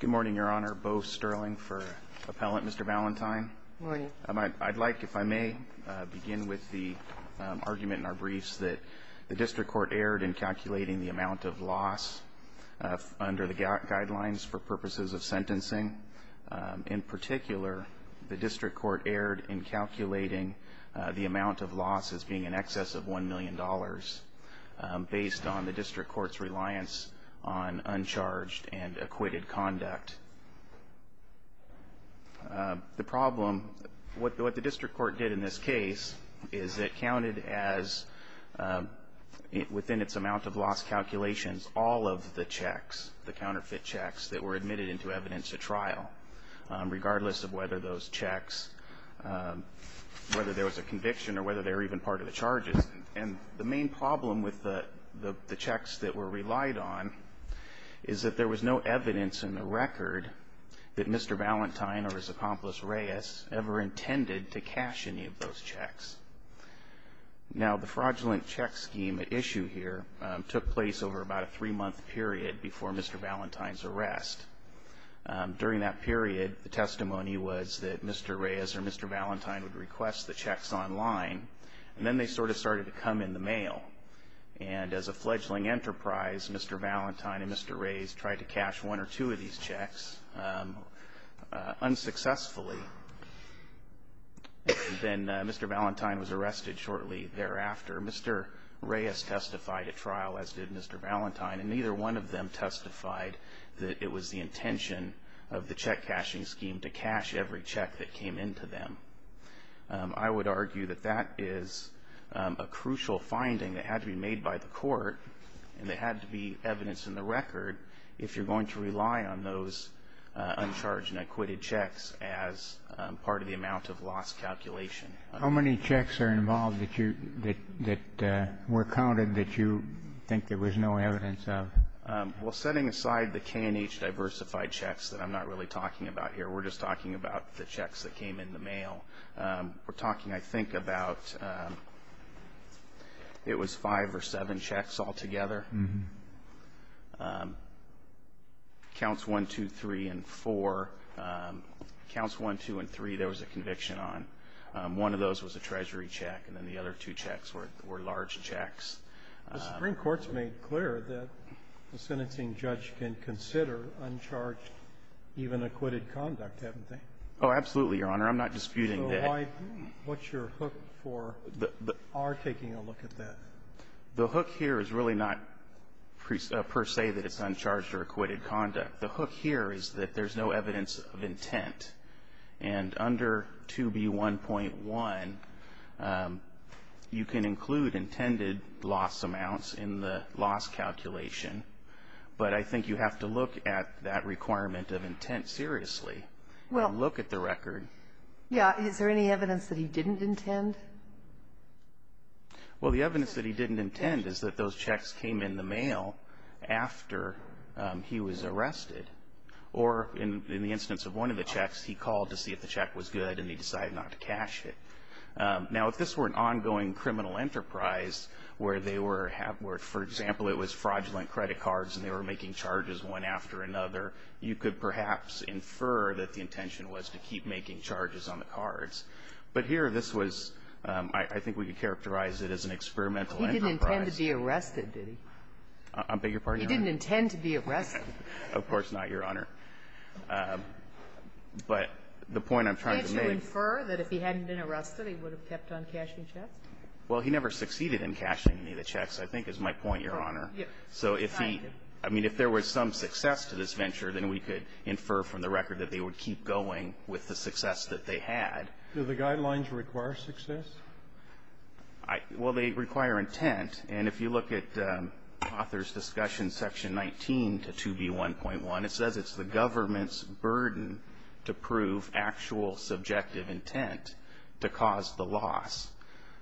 Good morning, Your Honor. Beau Sterling for Appellant, Mr. Valentine. Good morning. I'd like, if I may, begin with the argument in our briefs that the District Court erred in calculating the amount of loss under the guidelines for purposes of sentencing. In particular, the District Court erred in calculating the amount of loss as being in excess of $1 million based on the District Court's reliance on uncharged and acquitted conduct. The problem, what the District Court did in this case, is it counted as, within its amount of loss calculations, all of the checks, the counterfeit checks, that were admitted into evidence at trial, regardless of whether those checks, whether there was a conviction or whether they were even part of the charges. And the main problem with the checks that were relied on is that there was no evidence in the record that Mr. Valentine or his accomplice, Reyes, ever intended to cash any of those checks. Now, the fraudulent check scheme at issue here took place over about a three-month period before Mr. Valentine's arrest. During that period, the testimony was that Mr. Reyes or Mr. Valentine would request the checks online, and then they sort of started to come in the mail. And as a fledgling enterprise, Mr. Valentine and Mr. Reyes tried to cash one or two of these checks unsuccessfully. Then Mr. Valentine was arrested shortly thereafter. Mr. Reyes testified at trial, as did Mr. Valentine, and neither one of them testified that it was the intention of the check-cashing scheme to cash every check that came into them. I would argue that that is a crucial finding that had to be made by the court, and there had to be evidence in the record if you're going to rely on those uncharged and acquitted checks as part of the amount of loss calculation. How many checks are involved that were counted that you think there was no evidence of? Well, setting aside the K&H diversified checks that I'm not really talking about here, we're just talking about the checks that came in the mail. We're talking, I think, about it was five or seven checks altogether. Counts 1, 2, 3, and 4. Counts 1, 2, and 3 there was a conviction on. One of those was a treasury check, and then the other two checks were large checks. The Supreme Court's made clear that the sentencing judge can consider uncharged, even acquitted conduct, haven't they? Oh, absolutely, Your Honor. I'm not disputing that. So why – what's your hook for our taking a look at that? The hook here is really not per se that it's uncharged or acquitted conduct. The hook here is that there's no evidence of intent. And under 2B1.1, you can include intended loss amounts in the loss calculation, but I think you have to look at that requirement of intent seriously and look at the record. Yeah. Is there any evidence that he didn't intend? Well, the evidence that he didn't intend is that those checks came in the mail after he was arrested. Or in the instance of one of the checks, he called to see if the check was good, and he decided not to cash it. Now, if this were an ongoing criminal enterprise where they were – where, for example, it was fraudulent credit cards and they were making charges one after another, you could perhaps infer that the intention was to keep making charges on the cards. But here, this was – I think we could characterize it as an experimental enterprise. He didn't intend to be arrested, did he? I beg your pardon? He didn't intend to be arrested. Of course not, Your Honor. But the point I'm trying to make – Can't you infer that if he hadn't been arrested, he would have kept on cashing checks? Well, he never succeeded in cashing any of the checks, I think, is my point, Your Honor. So if he – I mean, if there was some success to this venture, then we could infer from the record that they would keep going with the success that they had. Do the guidelines require success? Well, they require intent. And if you look at author's discussion section 19 to 2B1.1, it says it's the government's burden to prove actual subjective intent to cause the loss.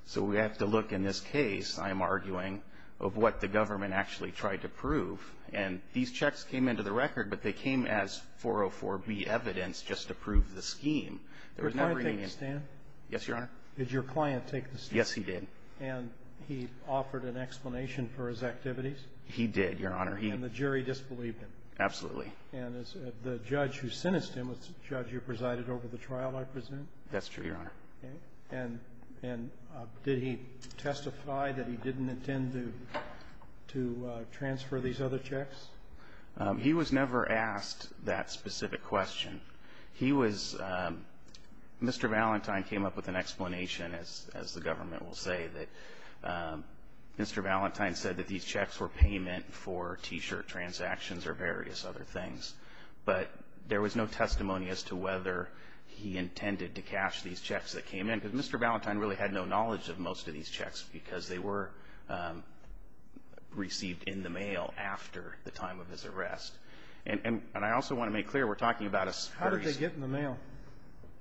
So we have to look in this case, I'm arguing, of what the government actually tried to prove. And these checks came into the record, but they came as 404B evidence just to prove the scheme. There was never any – Did your client take the stand? Yes, Your Honor. Did your client take the stand? Yes, he did. And he offered an explanation for his activities? He did, Your Honor. And the jury disbelieved him? Absolutely. And the judge who sentenced him was the judge who presided over the trial, I presume? That's true, Your Honor. Okay. And did he testify that he didn't intend to transfer these other checks? He was never asked that specific question. He was – Mr. Valentine came up with an explanation, as the government will say, that Mr. Valentine said that these checks were payment for T-shirt transactions or various other things. But there was no testimony as to whether he intended to cash these checks that came in because Mr. Valentine really had no knowledge of most of these checks because they were received in the mail after the time of his arrest. And I also want to make clear we're talking about a – How did they get in the mail?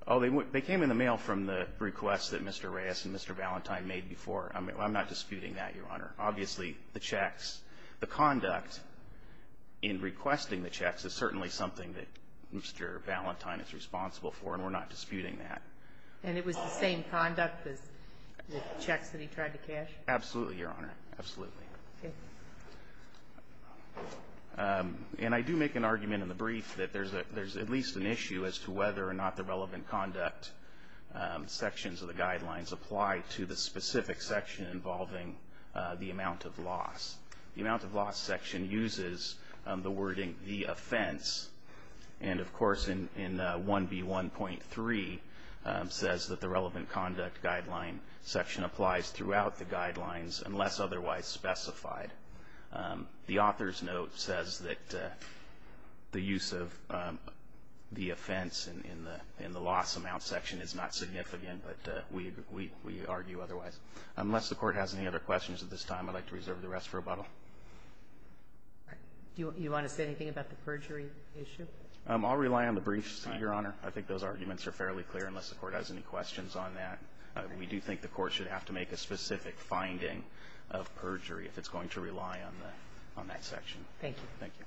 Oh, they came in the mail from the requests that Mr. Reyes and Mr. Valentine made before. I'm not disputing that, Your Honor. Obviously, the checks – the conduct in requesting the checks is certainly something that Mr. Valentine is responsible for, and we're not disputing that. And it was the same conduct as the checks that he tried to cash? Absolutely, Your Honor. Absolutely. Okay. And I do make an argument in the brief that there's at least an issue as to whether or not the relevant conduct sections of the guidelines apply to the specific section involving the amount of loss. The amount of loss section uses the wording the offense, and, of course, in 1B1.3, says that the relevant conduct guideline section applies throughout the guidelines unless otherwise specified. The author's note says that the use of the offense in the loss amount section is not significant, but we argue otherwise. Unless the Court has any other questions at this time, I'd like to reserve the rest for rebuttal. Do you want to say anything about the perjury issue? I'll rely on the briefs, Your Honor. I think those arguments are fairly clear unless the Court has any questions on that. But we do think the Court should have to make a specific finding of perjury if it's going to rely on the next section. Thank you. Thank you.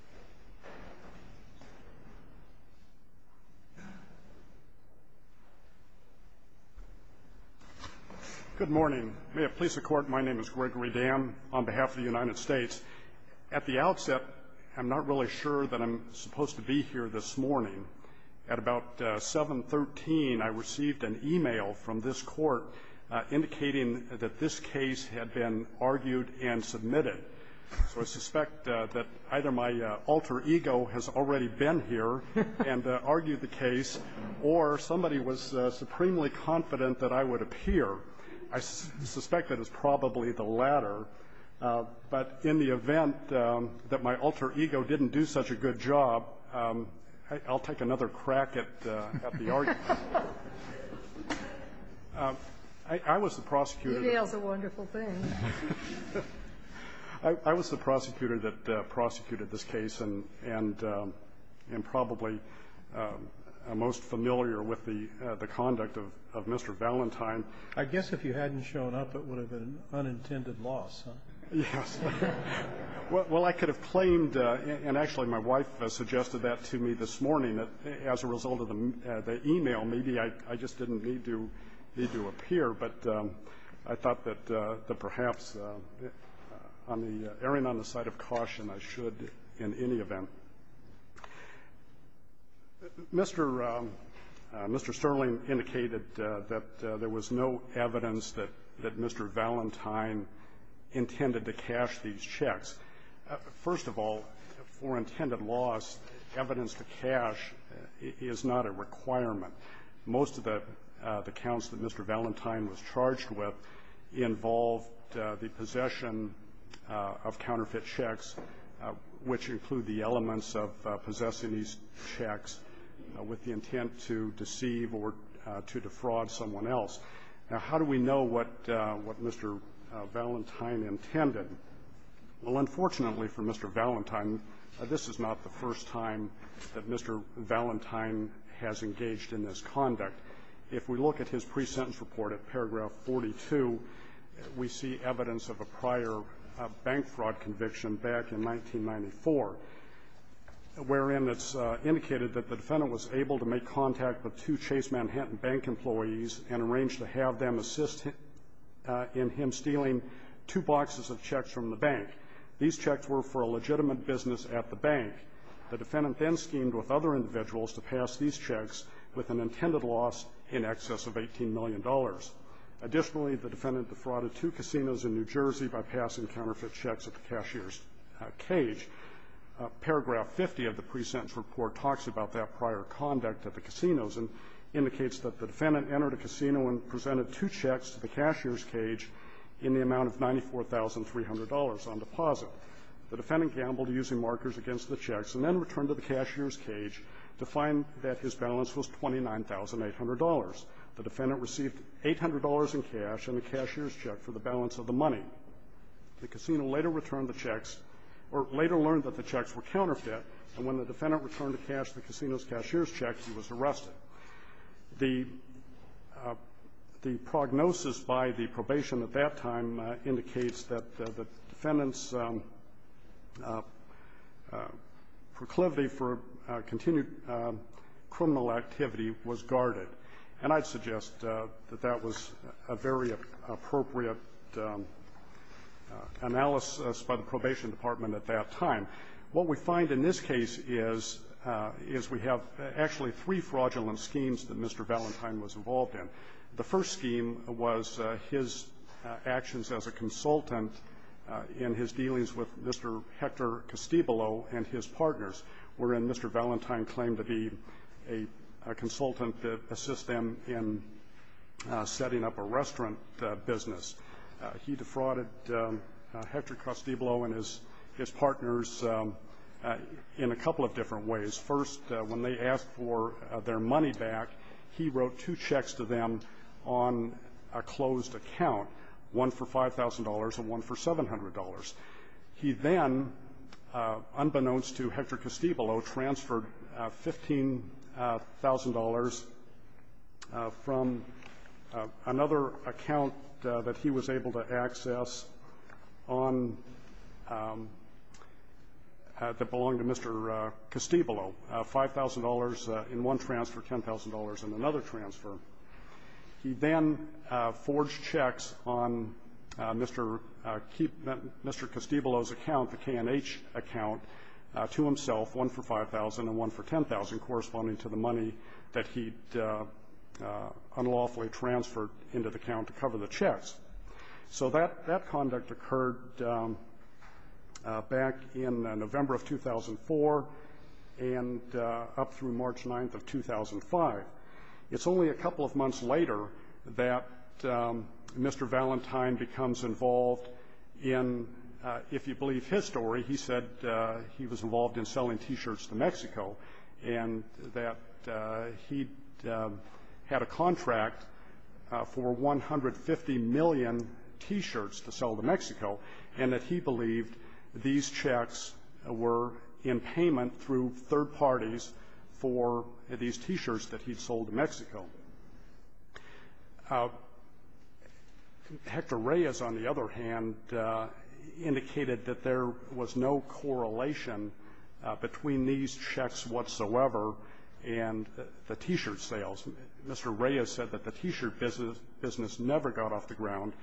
Good morning. May it please the Court, my name is Gregory Dam on behalf of the United States. At the outset, I'm not really sure that I'm supposed to be here this morning. At about 7.13, I received an e-mail from this Court indicating that this case had been argued and submitted. So I suspect that either my alter ego has already been here and argued the case, or somebody was supremely confident that I would appear. I suspect that it's probably the latter. But in the event that my alter ego didn't do such a good job, I'll take another crack at the argument. I was the prosecutor. E-mail's a wonderful thing. I was the prosecutor that prosecuted this case and probably most familiar with the conduct of Mr. Valentine. I guess if you hadn't shown up, it would have been an unintended loss, huh? Yes. Well, I could have claimed, and actually my wife suggested that to me this morning, that as a result of the e-mail, maybe I just didn't need to appear. But I thought that perhaps on the erring on the side of caution, I should in any event. Mr. Sterling indicated that there was no evidence that Mr. Valentine intended to cash these checks. First of all, for intended loss, evidence to cash is not a requirement. Most of the counts that Mr. Valentine was charged with involved the possession of counterfeit checks, which include the elements of possessing these checks with the intent to deceive or to defraud someone else. Now, how do we know what Mr. Valentine intended? Well, unfortunately for Mr. Valentine, this is not the first time that Mr. Valentine has engaged in this conduct. If we look at his pre-sentence report at paragraph 42, we see evidence of a prior bank fraud conviction back in 1994, wherein it's indicated that the defendant was able to make contact with two Chase Manhattan Bank employees and arrange to have them assist in him stealing two boxes of checks from the bank. These checks were for a legitimate business at the bank. The defendant then schemed with other individuals to pass these checks with an intended loss in excess of $18 million. Additionally, the defendant defrauded two casinos in New Jersey by passing counterfeit checks at the cashier's cage. Paragraph 50 of the pre-sentence report talks about that prior conduct at the casinos and indicates that the defendant entered a casino and presented two checks to the cashier's cage in the amount of $94,300 on deposit. The defendant gambled, using markers against the checks, and then returned to the cashier's cage to find that his balance was $29,800. The defendant received $800 in cash and the cashier's check for the balance of the money. The casino later returned the checks or later learned that the checks were counterfeit, and when the defendant returned the cash to the casino's cashier's check, he was arrested. The prognosis by the probation at that time indicates that the defendant's proclivity for continued criminal activity was guarded, and I'd suggest that that was a very appropriate analysis by the probation department at that time. What we find in this case is, is we have actually three fraudulent schemes that Mr. Valentine was involved in. The first scheme was his actions as a consultant in his dealings with Mr. Hector Castillo and his partners, wherein Mr. Valentine claimed to be a consultant that assists them in setting up a restaurant business. He defrauded Hector Castillo and his partners in a couple of different ways. First, when they asked for their money back, he wrote two checks to them on a $5,000 and one for $700. He then, unbeknownst to Hector Castillo, transferred $15,000 from another account that he was able to access on, that belonged to Mr. Castillo, $5,000 in one transfer, $10,000 in another transfer. He then forged checks on Mr. Castillo's account, the K&H account, to himself, one for $5,000 and one for $10,000, corresponding to the money that he'd unlawfully transferred into the account to cover the checks. So that conduct occurred back in November of 2004 and up through March 9th of 2005. It's only a couple of months later that Mr. Valentine becomes involved in, if you believe his story, he said he was involved in selling T-shirts to Mexico, and that he had a contract for 150 million T-shirts to sell to Mexico, and that he believed these checks were in payment through third parties for these T-shirts that he'd sold to Mexico. Hector Reyes, on the other hand, indicated that there was no correlation between these checks whatsoever and the T-shirt sales. Mr. Reyes said that the T-shirt business never got off the ground.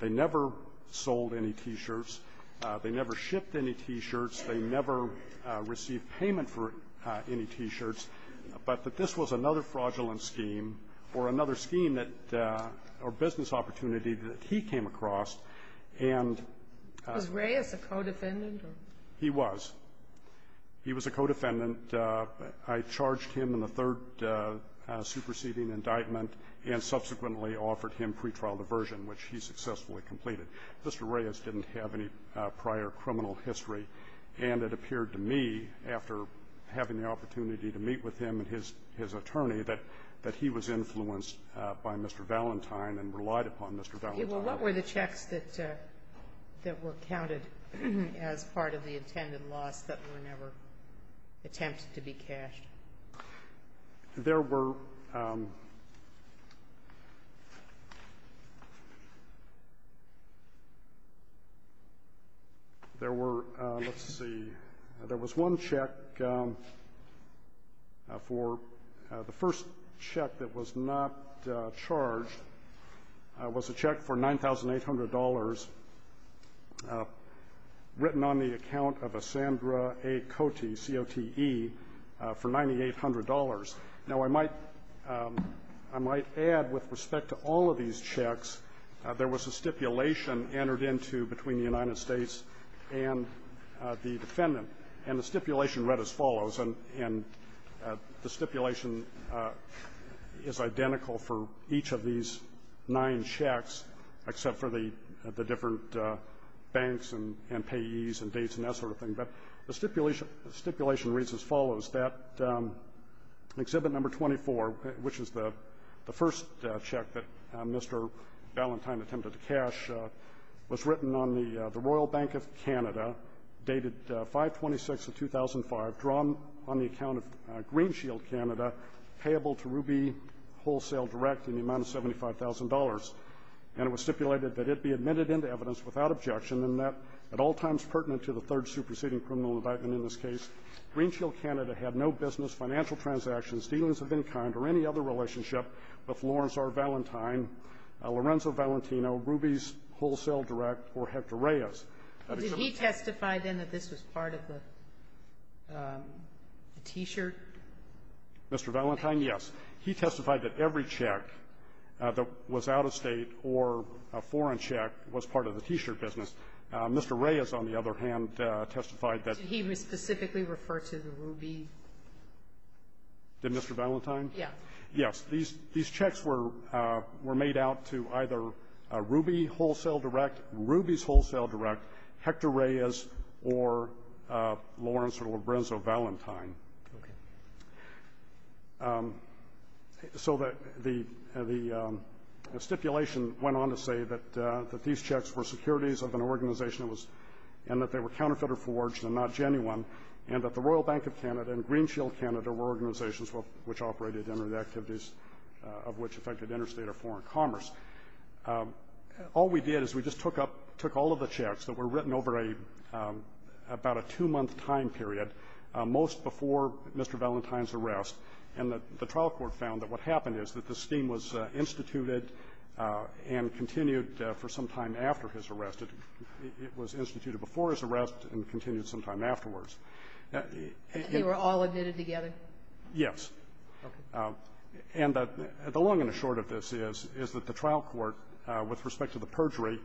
They never sold any T-shirts. They never shipped any T-shirts. They never received payment for any T-shirts. But that this was another fraudulent scheme or another scheme that or business opportunity that he came across, and ---- Was Reyes a co-defendant or ---- He was. He was a co-defendant. And I charged him in the third superseding indictment and subsequently offered him pretrial diversion, which he successfully completed. Mr. Reyes didn't have any prior criminal history, and it appeared to me, after having the opportunity to meet with him and his attorney, that he was influenced by Mr. Valentine and relied upon Mr. Valentine. Okay. Well, what were the checks that were counted as part of the intended loss that were never attempted to be cashed? There were ---- There were, let's see, there was one check for ---- The first check that was not charged was a check for $9,800 written on the account of a Sandra A. Cote, C-O-T-E, for $9,800. Now, I might add, with respect to all of these checks, there was a stipulation entered into between the United States and the defendant, and the stipulation read as follows, and the stipulation is identical for each of these nine checks except for the different banks and payees and dates and that sort of thing. But the stipulation reads as follows, that Exhibit No. 24, which is the first check that Mr. Valentine attempted to cash, was written on the Royal Bank of Canada, dated 5-26 of 2005, drawn on the account of Green Shield Canada, payable to Ruby Wholesale Direct in the amount of $75,000, and it was stipulated that it be admitted into evidence without objection and that at all times pertinent to the third superseding criminal indictment in this case, Green Shield Canada had no business, financial part of the T-shirt? Mr. Valentine, yes. He testified that every check that was out-of-State or a foreign check was part of the T-shirt business. Mr. Reyes, on the other hand, testified that he was specifically referred to the Ruby Did Mr. Valentine? Yes. Yes. These checks were made out to either Ruby Wholesale Direct, Ruby's Wholesale Direct, Hector Reyes, or Lawrence or Lorenzo Valentine. Okay. So the stipulation went on to say that these checks were securities of an organization and that they were counterfeiter-forged and not genuine, and that the Royal Bank of Canada and Green Shield Canada were organizations which operated under the activities of which affected interstate or foreign commerce. All we did is we just took up, took all of the checks that were written over a, about a two-month time period, most before Mr. Valentine's arrest. And the trial court found that what happened is that the scheme was instituted and continued for some time after his arrest. It was instituted before his arrest and continued some time afterwards. And they were all admitted together? Yes. Okay. And the long and the short of this is, is that the trial court, with respect to the perjury,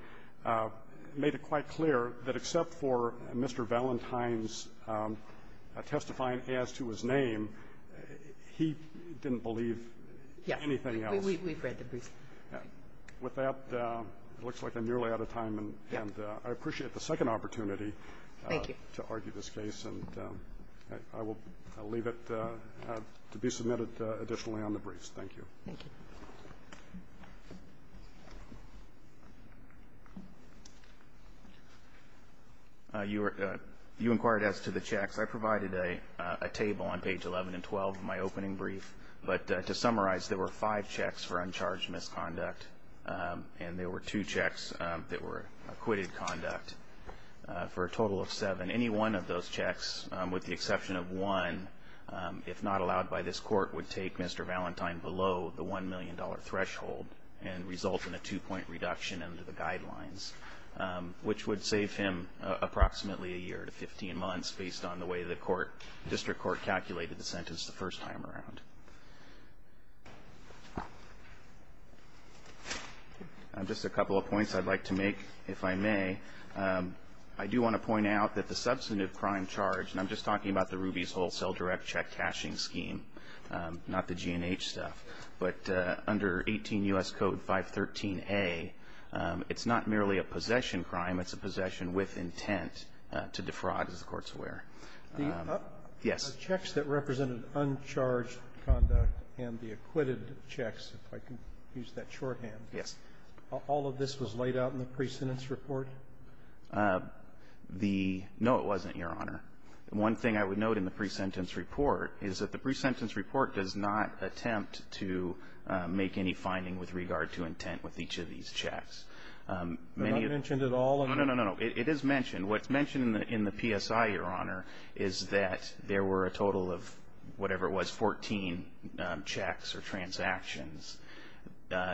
made it quite clear that except for Mr. Valentine's testifying as to his name, he didn't believe anything else. Yes. We've read the brief. With that, it looks like I'm nearly out of time. And I appreciate the second opportunity to argue this case. Thank you. I will leave it to be submitted additionally on the briefs. Thank you. Thank you. You inquired as to the checks. I provided a table on page 11 and 12 of my opening brief. But to summarize, there were five checks for uncharged misconduct, and there were two checks that were acquitted conduct for a total of seven. And any one of those checks, with the exception of one, if not allowed by this court, would take Mr. Valentine below the $1 million threshold and result in a two-point reduction under the guidelines, which would save him approximately a year to 15 months based on the way the court, district court, calculated the sentence the first time around. Just a couple of points I'd like to make, if I may. I do want to point out that the substantive crime charge, and I'm just talking about the Rubies Wholesale Direct Check cashing scheme, not the G&H stuff. But under 18 U.S. Code 513A, it's not merely a possession crime. It's a possession with intent to defraud, as the Court's aware. Yes. The checks that represented uncharged conduct and the acquitted checks, if I can use that shorthand. Yes. All of this was laid out in the pre-sentence report? No, it wasn't, Your Honor. One thing I would note in the pre-sentence report is that the pre-sentence report does not attempt to make any finding with regard to intent with each of these checks. But I mentioned it all. No, no, no. It is mentioned. What's mentioned in the PSI, Your Honor, is that there were a total of whatever it was, 14 checks or transactions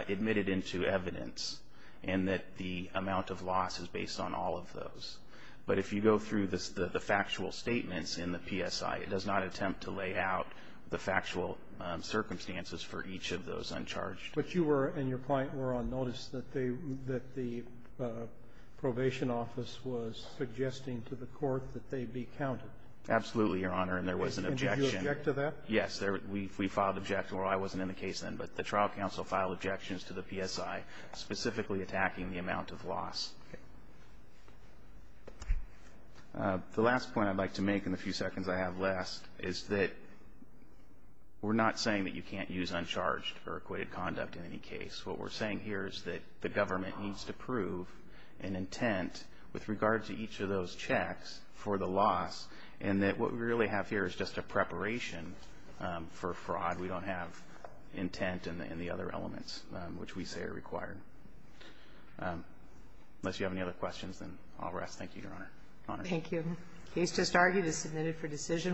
admitted into evidence, and that the amount of loss is based on all of those. But if you go through the factual statements in the PSI, it does not attempt to lay out the factual circumstances for each of those uncharged. But you were and your client were on notice that they – that the probation office was suggesting to the Court that they be counted. Absolutely, Your Honor. And there was an objection. Did you object to that? Yes. We filed an objection. Well, I wasn't in the case then, but the trial counsel filed objections to the PSI specifically attacking the amount of loss. The last point I'd like to make in the few seconds I have left is that we're not saying that you can't use uncharged or acquitted conduct in any case. What we're saying here is that the government needs to prove an intent with regard to each of those checks for the loss, and that what we really have here is just a preparation for fraud. We don't have intent and the other elements which we say are required. Unless you have any other questions, then I'll rest. Thank you, Your Honor. Thank you. The case just argued is submitted for decision.